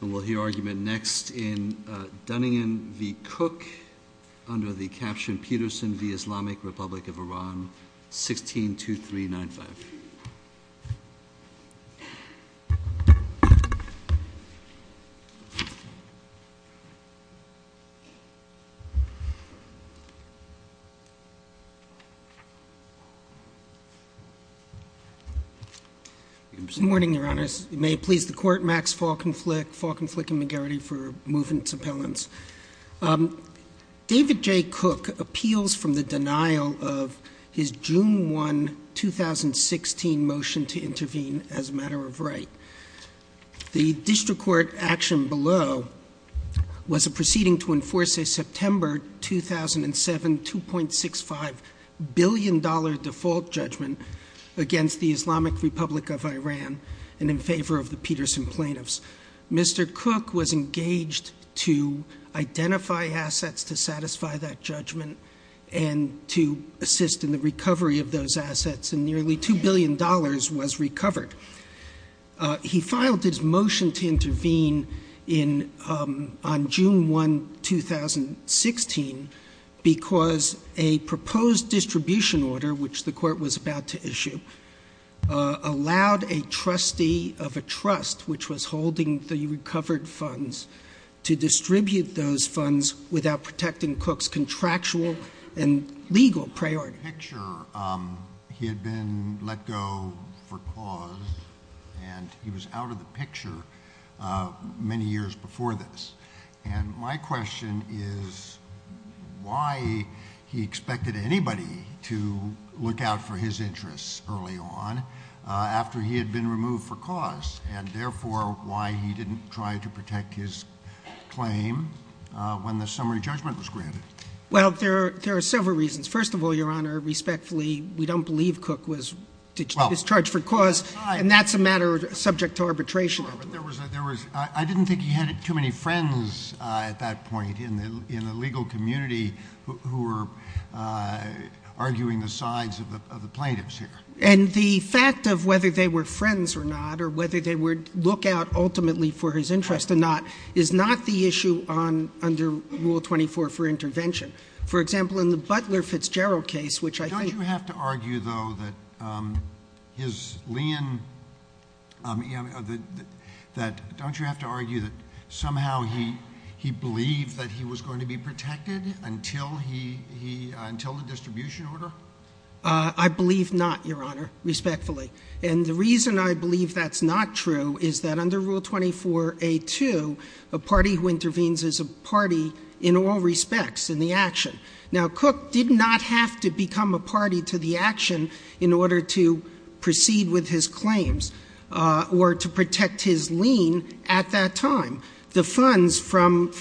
We'll hear argument next in Dunningan v. Cook under the caption Peterson v. Islamic Republic of Iran 162395. Good morning, Your Honors. May it please the Court, Max Falkenflik, Falkenflik and McGarrity for moving its appellants. David J. Cook appeals from the denial of his June 1, 2016, motion to intervene as a matter of right. The district court action below was a proceeding to enforce a September 2007 $2.65 billion default judgment against the Islamic Republic of Iran and in favor of the Peterson plaintiffs. Mr. Cook was engaged to identify assets to satisfy that judgment and to assist in the recovery of those assets, and nearly $2 billion was recovered. He filed his motion to intervene on June 1, 2016, because a proposed distribution order, which the court was about to issue, allowed a trustee of a trust, which was holding the recovered funds, to distribute those funds without protecting Cook's contractual and legal priority. Picture, he had been let go for cause, and he was out of the picture many years before this. And my question is why he expected anybody to look out for his interests early on after he had been removed for cause? And therefore, why he didn't try to protect his claim when the summary judgment was granted? Well, there are several reasons. First of all, Your Honor, respectfully, we don't believe Cook was charged for cause, and that's a matter subject to arbitration. But there was, I didn't think he had too many friends at that point in the legal community who were arguing the sides of the plaintiffs here. And the fact of whether they were friends or not, or whether they would look out ultimately for his interest or not, is not the issue under Rule 24 for intervention. For example, in the Butler Fitzgerald case, which I think- Don't you have to argue, though, that his lien, don't you have to argue that somehow he believed that he was going to be protected until the distribution order? I believe not, Your Honor, respectfully. And the reason I believe that's not true is that under Rule 24A2, a party who intervenes is a party in all respects in the action. Now, Cook did not have to become a party to the action in order to proceed with his claims or to protect his lien at that time. The funds from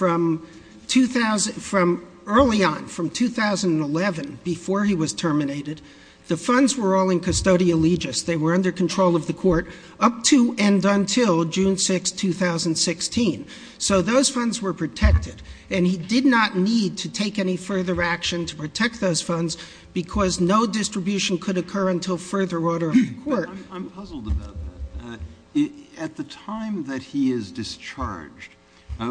early on, from 2011, before he was terminated, the funds were all in custodial legis. They were under control of the court up to and until June 6, 2016. So those funds were protected. And he did not need to take any further action to protect those funds because no distribution could occur until further order of the court. I'm puzzled about that. At the time that he is discharged, I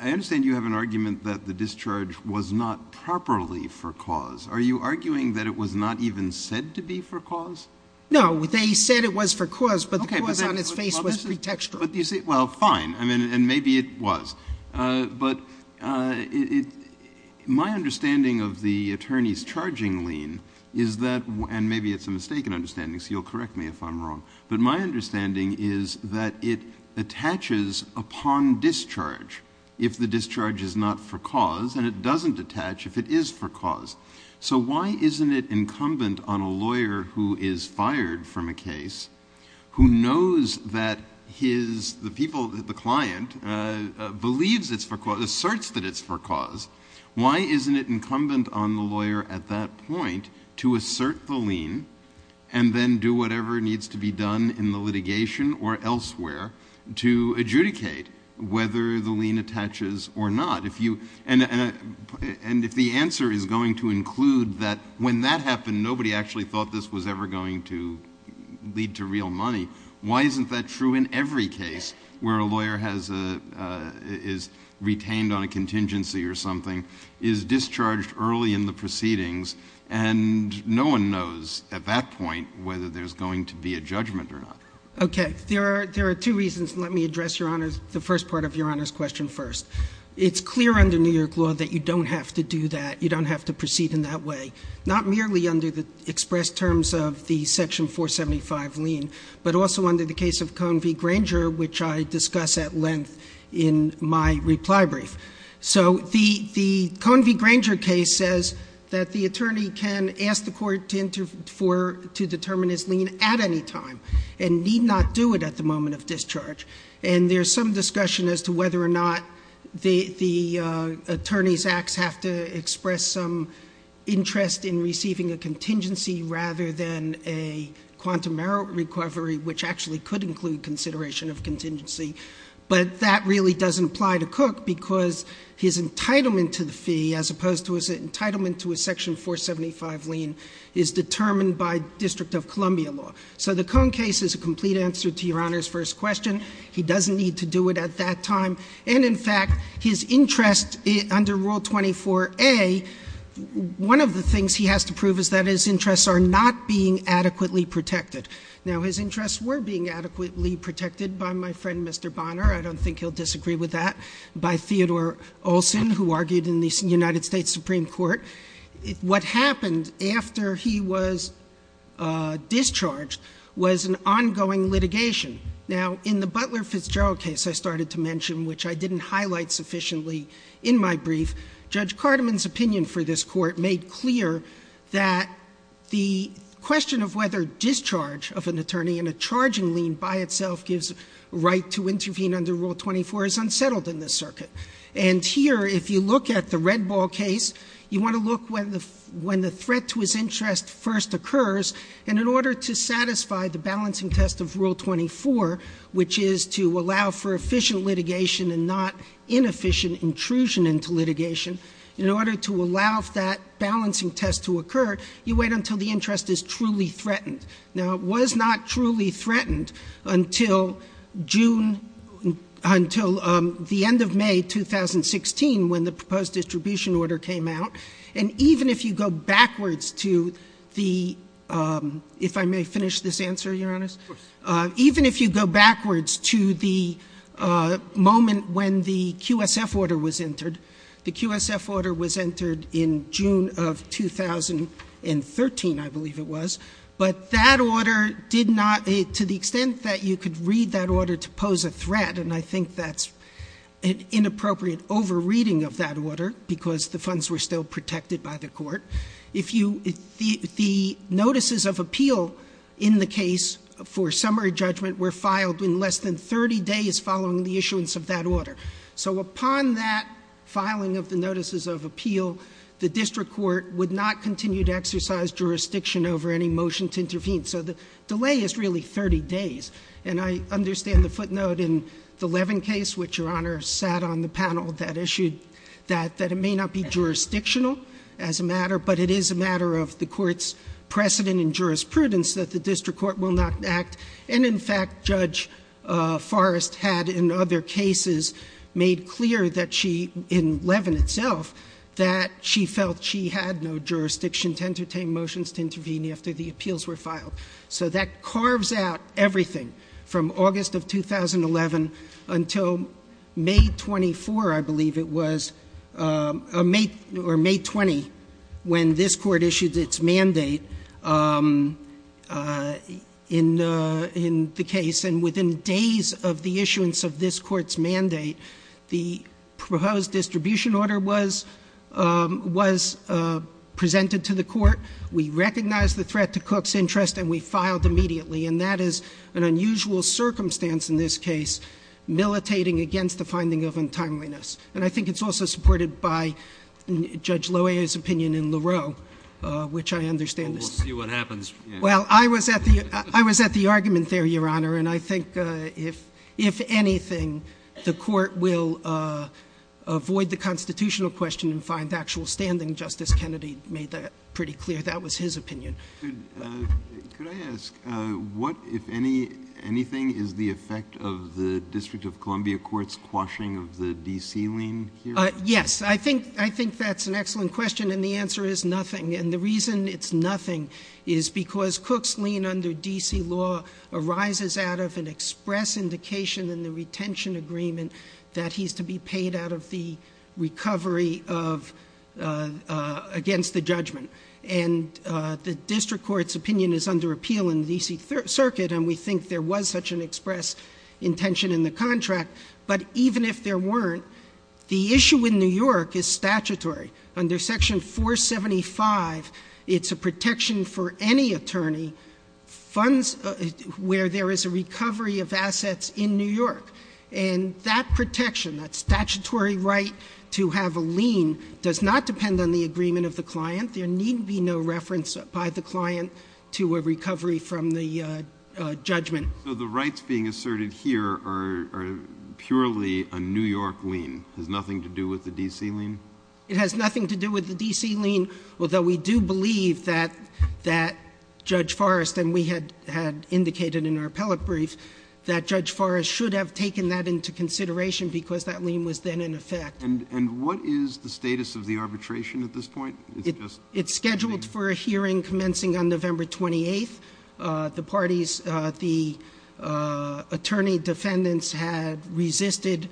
understand you have an argument that the discharge was not properly for cause. Are you arguing that it was not even said to be for cause? No, they said it was for cause, but the cause on its face was pretextual. Well, fine, and maybe it was. But my understanding of the attorney's charging lien is that, and maybe it's a mistaken understanding, so you'll correct me if I'm wrong, but my understanding is that it attaches upon discharge if the discharge is not for cause, and it doesn't attach if it is for cause. So why isn't it incumbent on a lawyer who is fired from a case, who knows that the client believes it's for cause, asserts that it's for cause, why isn't it incumbent on the lawyer at that point to assert the lien and then do whatever needs to be done in the litigation or elsewhere to adjudicate whether the lien attaches or not? And if the answer is going to include that when that happened, and nobody actually thought this was ever going to lead to real money, why isn't that true in every case where a lawyer is retained on a contingency or something, is discharged early in the proceedings, and no one knows at that point whether there's going to be a judgment or not. Okay, there are two reasons. Let me address the first part of your Honor's question first. It's clear under New York law that you don't have to do that, you don't have to proceed in that way. Not merely under the expressed terms of the section 475 lien, but also under the case of Cone v. Granger, which I discuss at length in my reply brief. So the Cone v. Granger case says that the attorney can ask the court to determine his lien at any time. And need not do it at the moment of discharge. And there's some discussion as to whether or not the attorney's acts have to express some interest in receiving a contingency rather than a quantum merit recovery, which actually could include consideration of contingency. But that really doesn't apply to Cook, because his entitlement to the fee, as opposed to his entitlement to a section 475 lien, is determined by District of Columbia law. So the Cone case is a complete answer to your Honor's first question. He doesn't need to do it at that time. And in fact, his interest under Rule 24A, one of the things he has to prove is that his interests are not being adequately protected. Now his interests were being adequately protected by my friend Mr. Bonner. I don't think he'll disagree with that. By Theodore Olsen, who argued in the United States Supreme Court. What happened after he was discharged was an ongoing litigation. Now in the Butler Fitzgerald case I started to mention, which I didn't highlight sufficiently in my brief. Judge Cartman's opinion for this court made clear that the question of whether discharge of an attorney in a charging lien by itself gives right to intervene under Rule 24 is unsettled in this circuit. And here, if you look at the Red Ball case, you want to look when the threat to his interest first occurs. And in order to satisfy the balancing test of Rule 24, which is to allow for efficient litigation and not inefficient intrusion into litigation. In order to allow that balancing test to occur, you wait until the interest is truly threatened. Now it was not truly threatened until June, until the end of May 2016 when the proposed distribution order came out. And even if you go backwards to the, if I may finish this answer, Your Honor? Even if you go backwards to the moment when the QSF order was entered. The QSF order was entered in June of 2013, I believe it was. But that order did not, to the extent that you could read that order to pose a threat, and I think that's an inappropriate over reading of that order because the funds were still protected by the court. If you, the notices of appeal in the case for summary judgment were filed in less than 30 days following the issuance of that order. So upon that filing of the notices of appeal, the district court would not continue to exercise jurisdiction over any motion to intervene. So the delay is really 30 days. And I understand the footnote in the Levin case, which Your Honor sat on the panel, that issued that it may not be jurisdictional as a matter, but it is a matter of the court's precedent and jurisprudence that the district court will not act. And in fact, Judge Forrest had in other cases made clear that she, in Levin itself, that she felt she had no jurisdiction to entertain motions to intervene after the appeals were filed. So that carves out everything from August of 2011 until May 24, I believe it was, or May 20, when this court issued its mandate in the case. And within days of the issuance of this court's mandate, the proposed distribution order was presented to the court. We recognized the threat to Cook's interest and we filed immediately. And that is an unusual circumstance in this case, militating against the finding of untimeliness. And I think it's also supported by Judge Loewe's opinion in LaRoe, which I understand. We'll see what happens. Well, I was at the argument there, Your Honor, and I think if anything, the court will avoid the constitutional question and find actual standing. Justice Kennedy made that pretty clear. That was his opinion. Could I ask, what, if anything, is the effect of the District of Columbia Court's quashing of the DC lien here? Yes, I think that's an excellent question and the answer is nothing. And the reason it's nothing is because Cook's lien under DC law arises out of an express indication in the retention agreement that he's to be paid out of the recovery of against the judgment and the district court's opinion is under appeal in the DC circuit. And we think there was such an express intention in the contract. But even if there weren't, the issue in New York is statutory. Under section 475, it's a protection for any attorney funds where there is a recovery of assets in New York. And that protection, that statutory right to have a lien does not depend on the agreement of the client. There need be no reference by the client to a recovery from the judgment. So the rights being asserted here are purely a New York lien, has nothing to do with the DC lien? It has nothing to do with the DC lien, although we do believe that Judge Forrest, and we had indicated in our appellate brief, that Judge Forrest should have taken that into consideration because that lien was then in effect. And what is the status of the arbitration at this point? It's scheduled for a hearing commencing on November 28th. The parties, the attorney defendants had resisted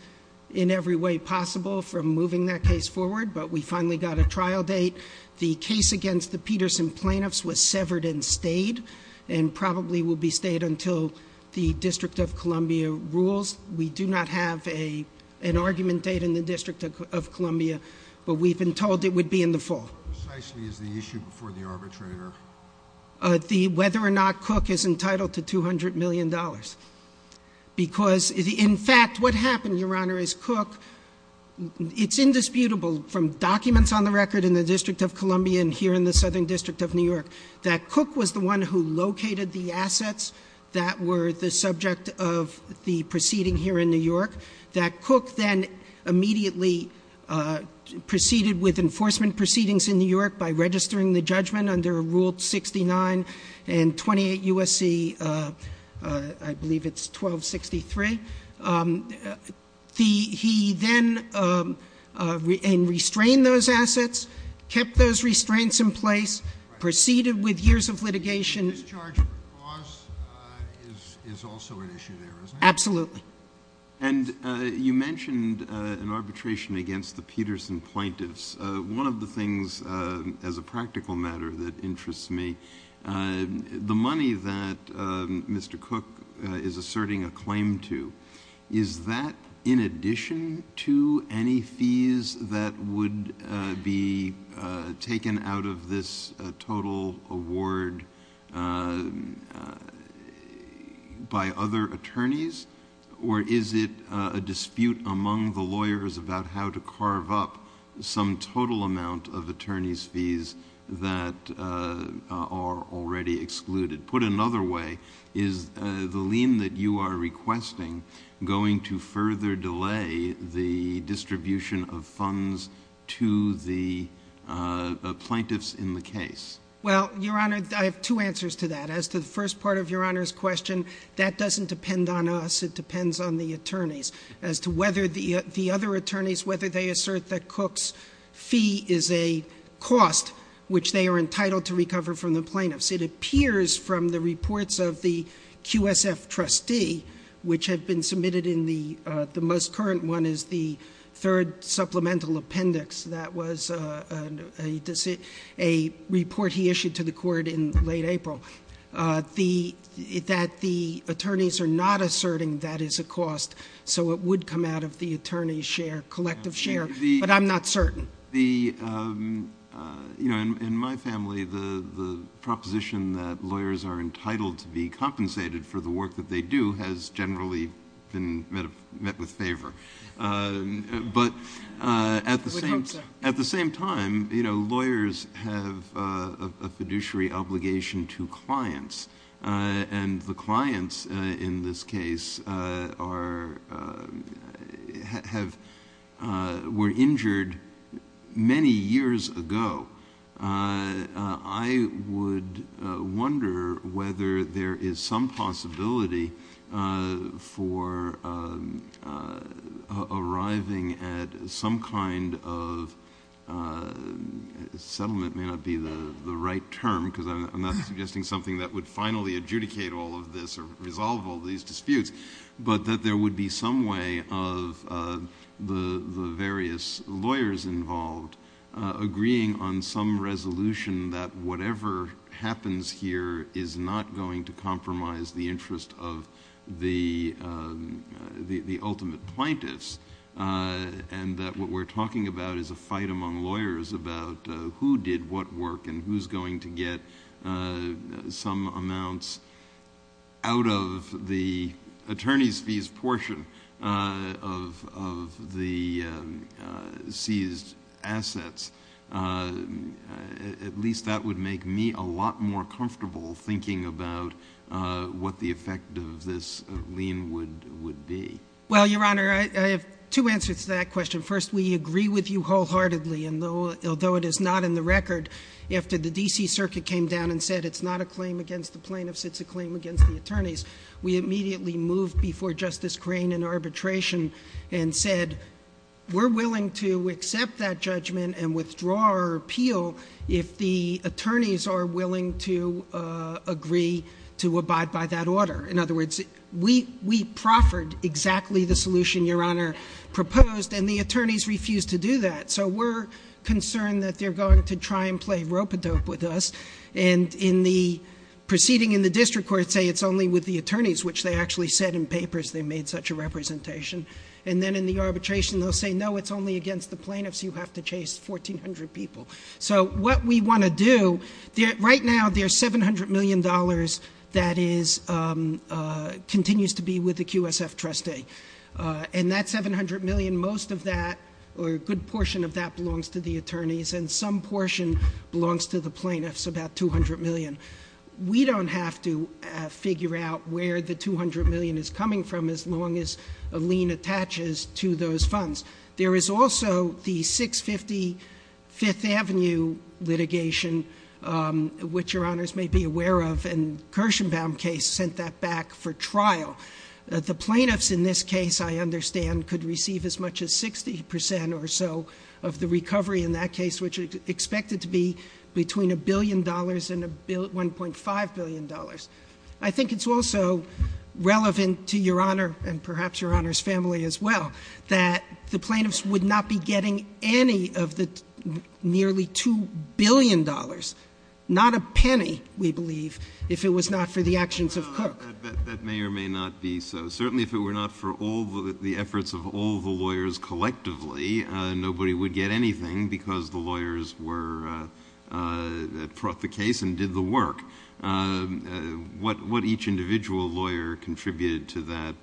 in every way possible from moving that case forward, but we finally got a trial date. The case against the Peterson plaintiffs was severed and stayed, and probably will be stayed until the District of Columbia rules. We do not have an argument date in the District of Columbia, but we've been told it would be in the fall. Precisely is the issue before the arbitrator. The whether or not Cook is entitled to $200 million. Because, in fact, what happened, Your Honor, is Cook, it's indisputable from documents on the record in the District of Columbia and here in the Southern District of New York, that Cook was the one who located the assets that were the subject of the proceeding here in New York. That Cook then immediately proceeded with enforcement proceedings in New York by registering the judgment under Rule 69 and 28 USC, I believe it's 1263. He then, and restrained those assets, kept those restraints in place, proceeded with years of litigation- Discharge of the clause is also an issue there, isn't it? Absolutely. And you mentioned an arbitration against the Peterson plaintiffs. One of the things, as a practical matter, that interests me, the money that Mr. Cook is asserting a claim to, is that in addition to any fees that would be taken out of this total award by other attorneys? Or is it a dispute among the lawyers about how to carve up some total amount of attorney's fees that are already excluded? Put another way, is the lien that you are requesting going to further delay the distribution of funds to the plaintiffs in the case? Well, Your Honor, I have two answers to that. As to the first part of Your Honor's question, that doesn't depend on us, it depends on the attorneys. As to whether the other attorneys, whether they assert that Cook's fee is a cost, which they are entitled to recover from the plaintiffs, it appears from the reports of the QSF trustee, which had been submitted in the most current one is the third supplemental appendix. That was a report he issued to the court in late April. That the attorneys are not asserting that is a cost, so it would come out of the attorney's share, collective share, but I'm not certain. In my family, the proposition that lawyers are entitled to be compensated for the work that they do has generally been met with favor. But at the same time, lawyers have a fiduciary obligation to clients, and the clients in this case were injured many years ago. I would wonder whether there is some possibility for arriving at some kind of settlement, may not be the right term because I'm not suggesting something that would finally adjudicate all of this or resolve all these disputes. But that there would be some way of the various lawyers involved agreeing on some resolution that whatever happens here is not going to compromise the interest of the ultimate plaintiffs. And that what we're talking about is a fight among lawyers about who did what work and who's going to get some amounts out of the attorney's fees portion of the seized assets. At least that would make me a lot more comfortable thinking about what the effect of this lien would be. Well, Your Honor, I have two answers to that question. First, we agree with you wholeheartedly, and although it is not in the record, after the DC Circuit came down and said it's not a claim against the plaintiffs, it's a claim against the attorneys. We immediately moved before Justice Crane in arbitration and said, we're willing to accept that judgment and withdraw our appeal if the attorneys are willing to agree to abide by that order. In other words, we proffered exactly the solution Your Honor proposed, and the attorneys refused to do that. So we're concerned that they're going to try and play rope-a-dope with us. And in the proceeding in the district court say it's only with the attorneys, which they actually said in papers they made such a representation. And then in the arbitration they'll say no, it's only against the plaintiffs, you have to chase 1,400 people. So what we want to do, right now there's $700 million that continues to be with the QSF trustee. And that 700 million, most of that, or a good portion of that belongs to the attorneys, and some portion belongs to the plaintiffs, about 200 million. We don't have to figure out where the 200 million is coming from as long as a lien attaches to those funds. There is also the 650 Fifth Avenue litigation, which Your Honors may be aware of, and Kirshenbaum case sent that back for trial. The plaintiffs in this case, I understand, could receive as much as 60% or so of the recovery in that case, which is expected to be between $1 billion and $1.5 billion. I think it's also relevant to Your Honor, and perhaps Your Honor's family as well, that the plaintiffs would not be getting any of the nearly $2 billion. Not a penny, we believe, if it was not for the actions of Cook. That may or may not be so. Certainly if it were not for all the efforts of all the lawyers collectively, nobody would get anything because the lawyers were, brought the case and did the work. What each individual lawyer contributed to that,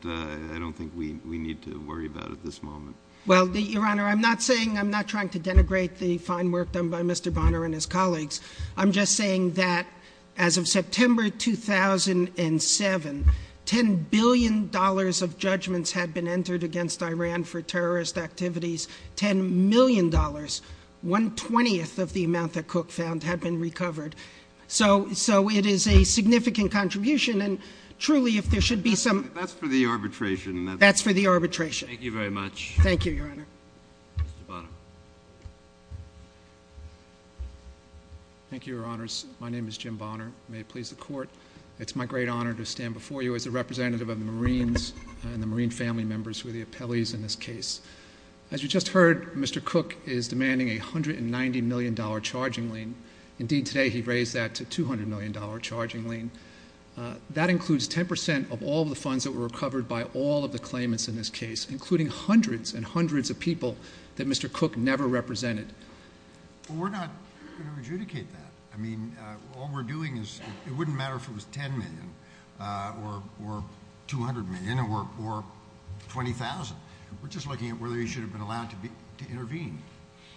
I don't think we need to worry about at this moment. Well, Your Honor, I'm not saying, I'm not trying to denigrate the fine work done by Mr. Bonner and his colleagues. I'm just saying that as of September 2007, $10 billion of judgments had been entered against Iran for terrorist activities, $10 million, 1 20th of the amount that Cook found had been recovered. So it is a significant contribution, and truly, if there should be some- That's for the arbitration. That's for the arbitration. Thank you very much. Thank you, Your Honor. Mr. Bonner. Thank you, Your Honors. My name is Jim Bonner. May it please the court. It's my great honor to stand before you as a representative of the Marines and the Marine family members who are the appellees in this case. As you just heard, Mr. Cook is demanding a $190 million charging lien. Indeed, today, he raised that to $200 million charging lien. That includes 10% of all the funds that were recovered by all of the claimants in this case, including hundreds and hundreds of people that Mr. Cook never represented. We're not going to adjudicate that. I mean, all we're doing is, it wouldn't matter if it was 10 million or 200 million or 20,000, we're just looking at whether he should have been allowed to intervene.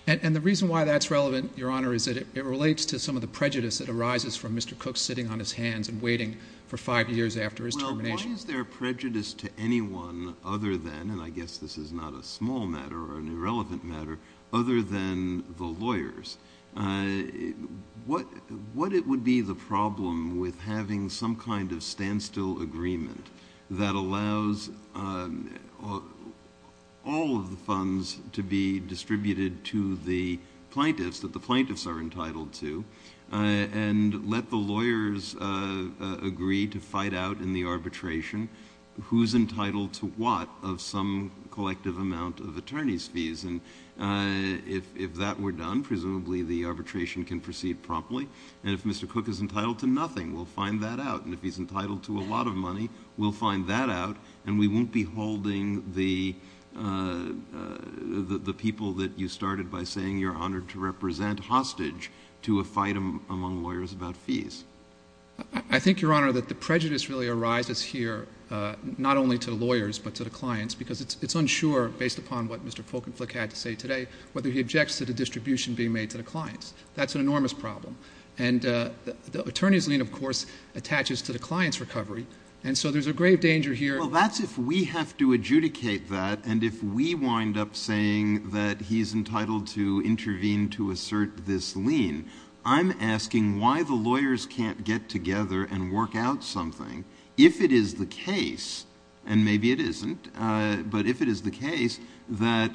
And the reason why that's relevant, Your Honor, is that it relates to some of the prejudice that arises from Mr. Cook sitting on his hands and waiting for five years after his termination. Well, why is there prejudice to anyone other than, and I guess this is not a small matter or an irrelevant matter, other than the lawyers? What it would be the problem with having some kind of standstill agreement that allows all of the funds to be distributed to the plaintiffs, that the plaintiffs are entitled to, and let the lawyers agree to fight out in the arbitration. Who's entitled to what of some collective amount of attorney's fees? And if that were done, presumably the arbitration can proceed promptly. And if Mr. Cook is entitled to nothing, we'll find that out. And if he's entitled to a lot of money, we'll find that out. And we won't be holding the people that you started by saying, you're honored to represent, hostage to a fight among lawyers about fees. I think, Your Honor, that the prejudice really arises here, not only to the lawyers, but to the clients. Because it's unsure, based upon what Mr. Folkenflik had to say today, whether he objects to the distribution being made to the clients. That's an enormous problem. And the attorney's lien, of course, attaches to the client's recovery. And so there's a grave danger here. Well, that's if we have to adjudicate that. And if we wind up saying that he's entitled to intervene to assert this lien, I'm asking why the lawyers can't get together and work out something. If it is the case, and maybe it isn't, but if it is the case, that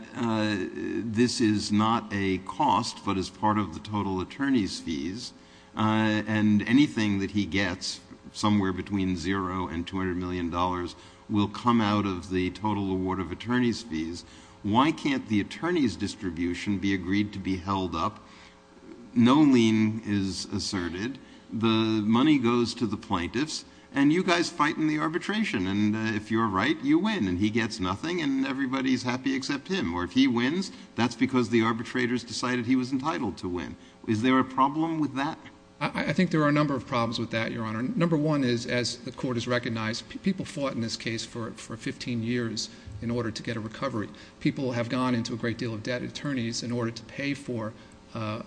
this is not a cost, but is part of the total attorney's fees. And anything that he gets, somewhere between zero and $200 million, will come out of the total award of attorney's fees. Why can't the attorney's distribution be agreed to be held up? No lien is asserted. The money goes to the plaintiffs. And you guys fight in the arbitration. And if you're right, you win. And he gets nothing, and everybody's happy except him. Or if he wins, that's because the arbitrators decided he was entitled to win. Is there a problem with that? I think there are a number of problems with that, Your Honor. Number one is, as the court has recognized, people fought in this case for 15 years in order to get a recovery. People have gone into a great deal of debt attorneys in order to pay for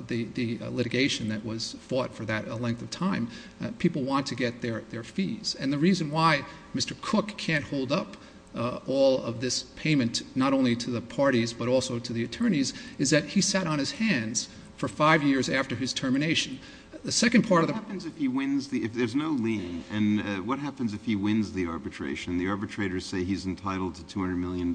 the litigation that was fought for that length of time. People want to get their fees. And the reason why Mr. Cook can't hold up all of this payment, not only to the parties, but also to the attorneys, is that he sat on his hands for five years after his termination. The second part of the- What happens if he wins, if there's no lien, and what happens if he wins the arbitration? The arbitrators say he's entitled to $200 million.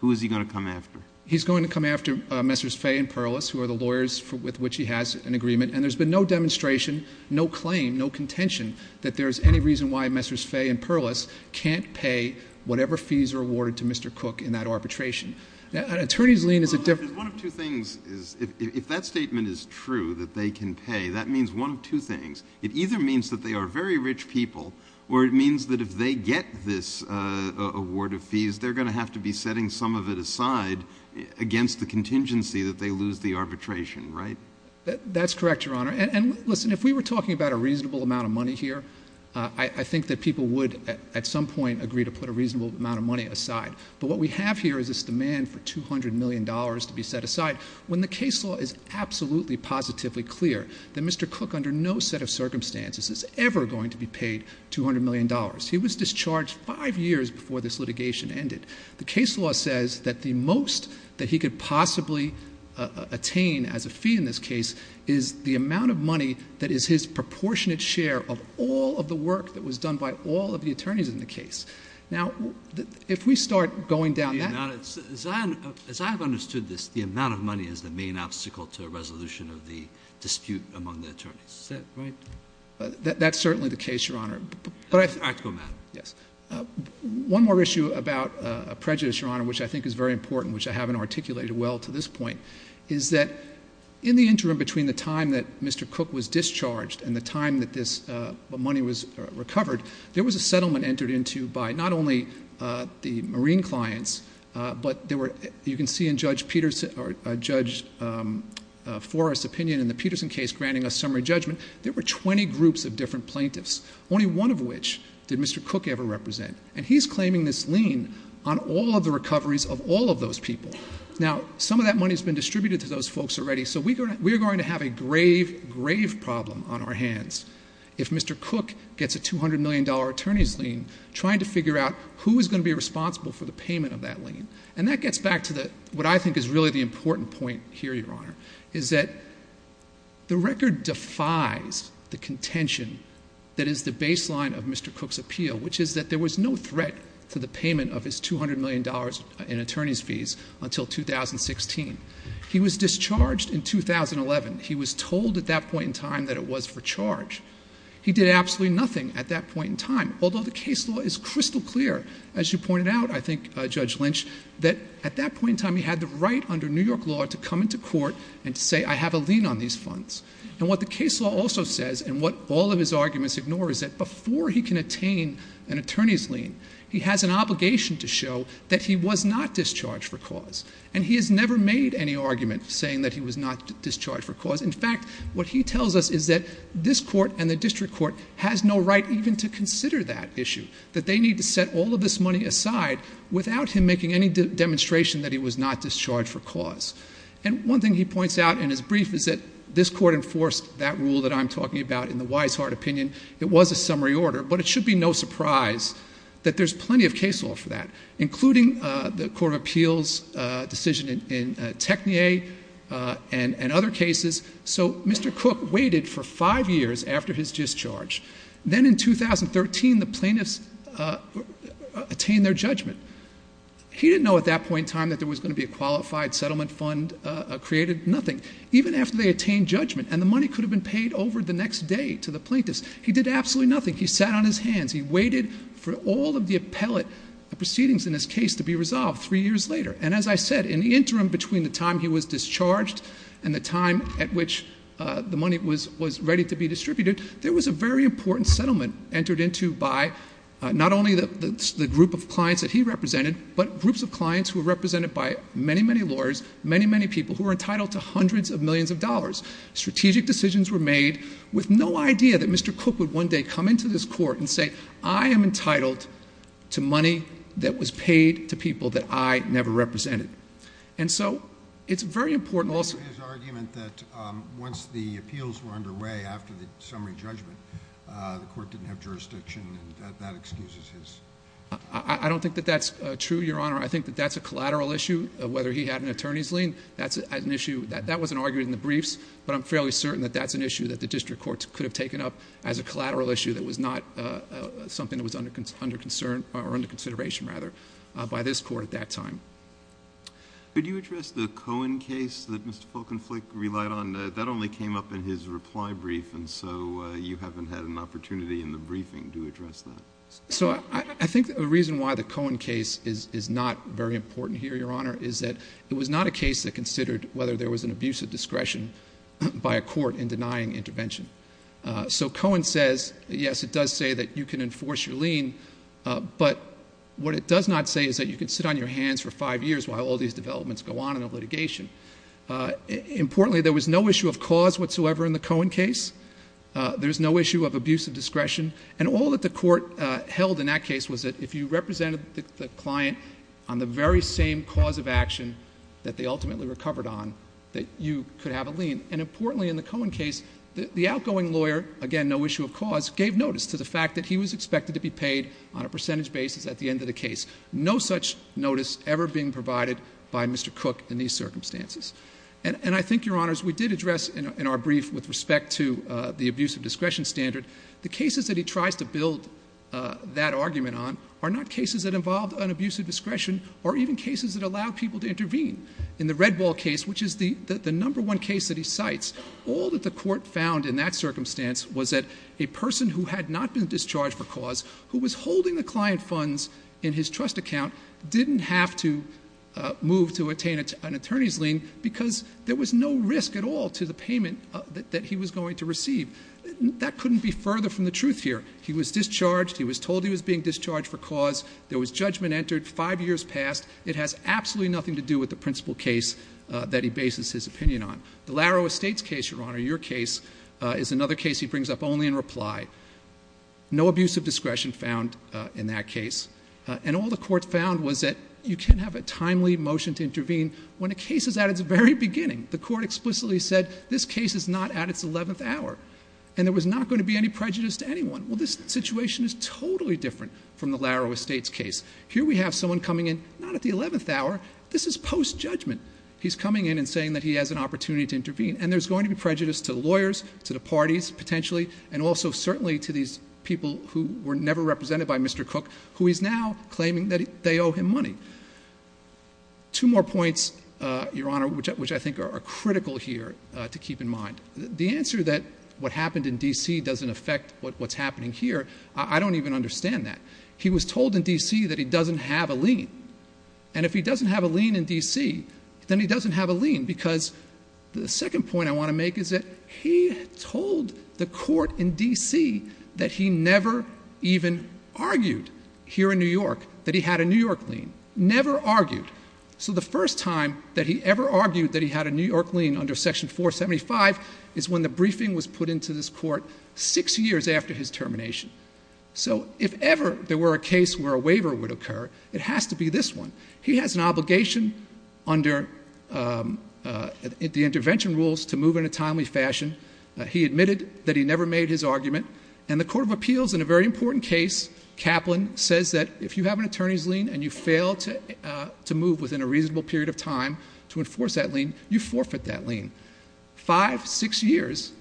Who is he going to come after? He's going to come after Messrs. Fay and Perlis, who are the lawyers with which he has an agreement. And there's been no demonstration, no claim, no contention that there's any reason why Messrs. Fay and Perlis can't pay whatever fees are awarded to Mr. Cook in that arbitration. An attorney's lien is a different- One of two things is, if that statement is true, that they can pay, that means one of two things. It either means that they are very rich people, or it means that if they get this award of fees, they're going to have to be setting some of it aside against the contingency that they lose the arbitration, right? That's correct, Your Honor. And listen, if we were talking about a reasonable amount of money here, I think that people would, at some point, agree to put a reasonable amount of money aside. But what we have here is this demand for $200 million to be set aside, when the case law is absolutely positively clear that Mr. Cook, under no set of circumstances, is ever going to be paid $200 million. He was discharged five years before this litigation ended. The case law says that the most that he could possibly attain as a fee in this case is the amount of money that is his proportionate share of all of the work that was done by all of the attorneys in the case. Now, if we start going down that- As I have understood this, the amount of money is the main obstacle to a resolution of the dispute among the attorneys, is that right? That's certainly the case, Your Honor. But I- I have to go back. Yes. One more issue about prejudice, Your Honor, which I think is very important, which I haven't articulated well to this point, is that in the interim between the time that Mr. Cook was discharged and the time that this money was recovered, there was a settlement entered into by not only the marine clients, but there were, you can see in Judge Forrest's opinion in the Peterson case, which is granting a summary judgment, there were 20 groups of different plaintiffs, only one of which did Mr. Cook ever represent. And he's claiming this lien on all of the recoveries of all of those people. Now, some of that money's been distributed to those folks already, so we're going to have a grave, grave problem on our hands. If Mr. Cook gets a $200 million attorney's lien, trying to figure out who is going to be responsible for the payment of that lien. And that gets back to what I think is really the important point here, Your Honor, is that the record defies the contention that is the baseline of Mr. Cook's appeal, which is that there was no threat to the payment of his $200 million in attorney's fees until 2016. He was discharged in 2011. He was told at that point in time that it was for charge. He did absolutely nothing at that point in time, although the case law is crystal clear. As you pointed out, I think, Judge Lynch, that at that point in time he had the right under New York law to come into court and to say, I have a lien on these funds. And what the case law also says, and what all of his arguments ignore, is that before he can attain an attorney's lien, he has an obligation to show that he was not discharged for cause. And he has never made any argument saying that he was not discharged for cause. In fact, what he tells us is that this court and the district court has no right even to consider that issue. That they need to set all of this money aside without him making any demonstration that he was not discharged for cause. And one thing he points out in his brief is that this court enforced that rule that I'm talking about in the Weishart opinion. It was a summary order, but it should be no surprise that there's plenty of case law for that, including the Court of Appeals decision in Technia and other cases. So Mr. Cook waited for five years after his discharge. Then in 2013, the plaintiffs attained their judgment. He didn't know at that point in time that there was going to be a qualified settlement fund created, nothing. Even after they attained judgment, and the money could have been paid over the next day to the plaintiffs, he did absolutely nothing. He sat on his hands. He waited for all of the appellate proceedings in this case to be resolved three years later. And as I said, in the interim between the time he was discharged and the time at which the money was ready to be distributed, there was a very important settlement entered into by not only the group of clients that he represented, but groups of clients who were represented by many, many lawyers, many, many people who were entitled to hundreds of millions of dollars. Strategic decisions were made with no idea that Mr. Cook would one day come into this court and say, I am entitled to money that was paid to people that I never represented. And so, it's very important also- His argument that once the appeals were underway after the summary judgment, the court didn't have jurisdiction, and that excuses his- I don't think that that's true, Your Honor. I think that that's a collateral issue, whether he had an attorney's lien. That's an issue, that wasn't argued in the briefs, but I'm fairly certain that that's an issue that the district courts could have taken up as a collateral issue that was not something that was under consideration by this court at that time. Could you address the Cohen case that Mr. Fulkenflik relied on? That only came up in his reply brief, and so you haven't had an opportunity in the briefing to address that. So, I think the reason why the Cohen case is not very important here, Your Honor, is that it was not a case that considered whether there was an abuse of discretion by a court in denying intervention. So, Cohen says, yes, it does say that you can enforce your lien, but what it does not say is that you can sit on your hands for five years while all these developments go on in the litigation. Importantly, there was no issue of cause whatsoever in the Cohen case. There's no issue of abuse of discretion. And all that the court held in that case was that if you represented the client on the very same cause of action that they ultimately recovered on, that you could have a lien. And importantly in the Cohen case, the outgoing lawyer, again, no issue of cause, gave notice to the fact that he was expected to be paid on a percentage basis at the end of the case. No such notice ever being provided by Mr. Cook in these circumstances. And I think, Your Honors, we did address in our brief with respect to the abuse of discretion standard. The cases that he tries to build that argument on are not cases that involved an abuse of discretion, or even cases that allow people to intervene in the Redwall case, which is the number one case that he cites. All that the court found in that circumstance was that a person who had not been discharged for cause, who was holding the client funds in his trust account, didn't have to move to attain an attorney's lien. Because there was no risk at all to the payment that he was going to receive. That couldn't be further from the truth here. He was discharged, he was told he was being discharged for cause. There was judgment entered, five years passed. It has absolutely nothing to do with the principal case that he bases his opinion on. The Larrow Estates case, Your Honor, your case, is another case he brings up only in reply. No abuse of discretion found in that case. And all the court found was that you can have a timely motion to intervene when a case is at its very beginning. The court explicitly said, this case is not at its 11th hour, and there was not going to be any prejudice to anyone. Well, this situation is totally different from the Larrow Estates case. Here we have someone coming in, not at the 11th hour, this is post-judgment. He's coming in and saying that he has an opportunity to intervene. And there's going to be prejudice to the lawyers, to the parties, potentially, and also certainly to these people who were never represented by Mr. Cook, who he's now claiming that they owe him money. Two more points, Your Honor, which I think are critical here to keep in mind. The answer that what happened in DC doesn't affect what's happening here, I don't even understand that. He was told in DC that he doesn't have a lien. And if he doesn't have a lien in DC, then he doesn't have a lien. Because the second point I want to make is that he told the court in DC that he never even argued here in New York that he had a New York lien, never argued. So the first time that he ever argued that he had a New York lien under section 475 is when the briefing was put into this court six years after his termination. So if ever there were a case where a waiver would occur, it has to be this one. He has an obligation under the intervention rules to move in a timely fashion. He admitted that he never made his argument. And the Court of Appeals, in a very important case, Kaplan says that if you have an attorney's lien and you fail to move within a reasonable period of time to enforce that lien, you forfeit that lien. Five, six years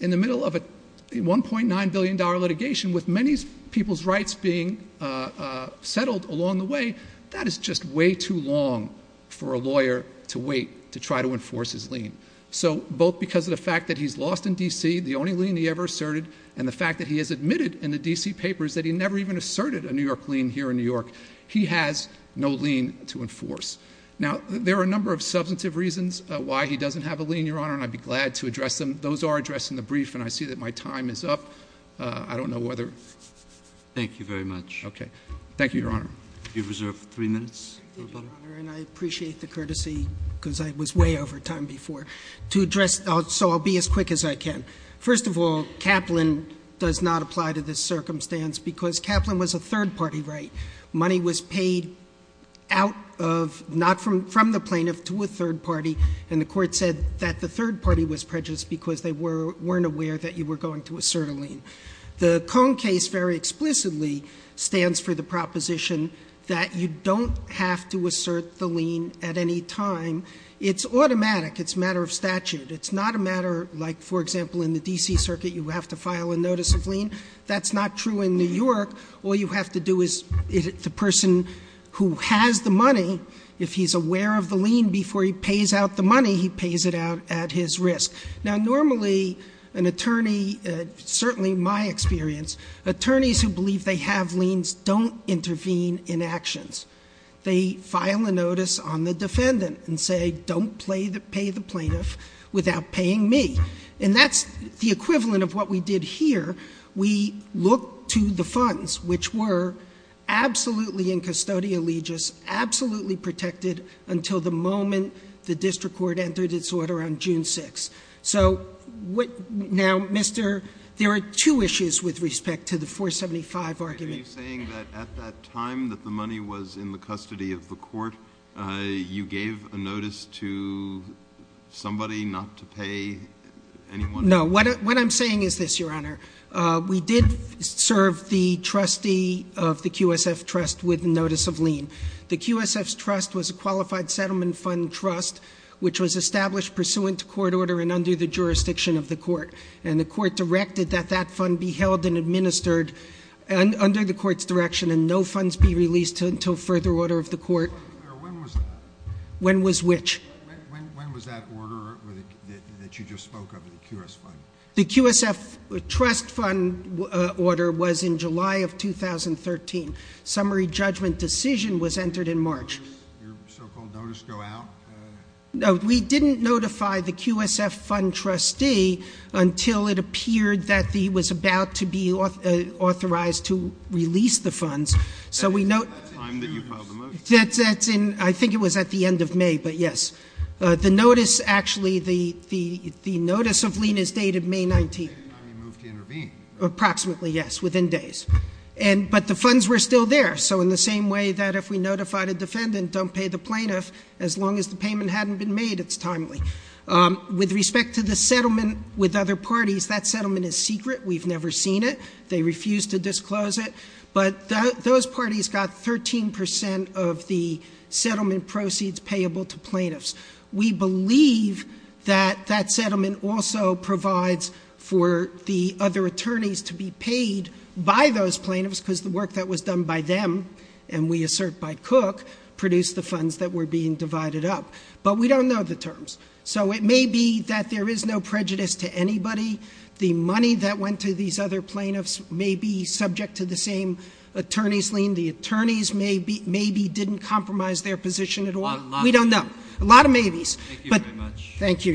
in the middle of a $1.9 billion litigation with many people's rights being settled along the way. That is just way too long for a lawyer to wait to try to enforce his lien. So both because of the fact that he's lost in DC, the only lien he ever asserted, and the fact that he has admitted in the DC papers that he never even asserted a New York lien here in New York, he has no lien to enforce. Now, there are a number of substantive reasons why he doesn't have a lien, Your Honor, and I'd be glad to address them. Those are addressed in the brief, and I see that my time is up. I don't know whether- Thank you very much. Okay. Thank you, Your Honor. You're reserved for three minutes. Thank you, Your Honor, and I appreciate the courtesy because I was way over time before. To address, so I'll be as quick as I can. First of all, Kaplan does not apply to this circumstance because Kaplan was a third party right. Money was paid out of, not from the plaintiff, to a third party. And the court said that the third party was prejudiced because they weren't aware that you were going to assert a lien. The Kohn case very explicitly stands for the proposition that you don't have to assert the lien at any time. It's automatic. It's a matter of statute. It's not a matter like, for example, in the DC circuit, you have to file a notice of lien. That's not true in New York. All you have to do is, the person who has the money, if he's aware of the lien before he pays out the money, he pays it out at his risk. Now normally, an attorney, certainly my experience, attorneys who believe they have liens don't intervene in actions. They file a notice on the defendant and say, don't pay the plaintiff without paying me. And that's the equivalent of what we did here. We looked to the funds, which were absolutely in custodial legis, absolutely protected until the moment the district court entered its order on June 6th. So, now, Mr., there are two issues with respect to the 475 argument. Are you saying that at that time that the money was in the custody of the court, you gave a notice to somebody not to pay anyone? No, what I'm saying is this, Your Honor. We did serve the trustee of the QSF trust with notice of lien. The QSF's trust was a qualified settlement fund trust, which was established pursuant to court order and under the jurisdiction of the court. And the court directed that that fund be held and administered under the court's direction and no funds be released until further order of the court. When was that? When was which? When was that order that you just spoke of, the QS fund? The QSF trust fund order was in July of 2013. Summary judgment decision was entered in March. Your so-called notice go out? No, we didn't notify the QSF fund trustee until it appeared that he was about to be authorized to release the funds. So we know- That's the time that you filed the motion? That's in, I think it was at the end of May, but yes. The notice actually, the notice of lien is dated May 19th. That's the time you moved to intervene. Approximately, yes, within days. But the funds were still there, so in the same way that if we notified a defendant, don't pay the plaintiff, as long as the payment hadn't been made, it's timely. With respect to the settlement with other parties, that settlement is secret, we've never seen it. They refuse to disclose it, but those parties got 13% of the settlement proceeds payable to plaintiffs. We believe that that settlement also provides for the other attorneys to be paid by those plaintiffs because the work that was done by them, and we assert by Cook, produced the funds that were being divided up, but we don't know the terms. So it may be that there is no prejudice to anybody. The money that went to these other plaintiffs may be subject to the same attorney's lien. The attorneys maybe didn't compromise their position at all. We don't know. A lot of maybes. Thank you, Your Honor.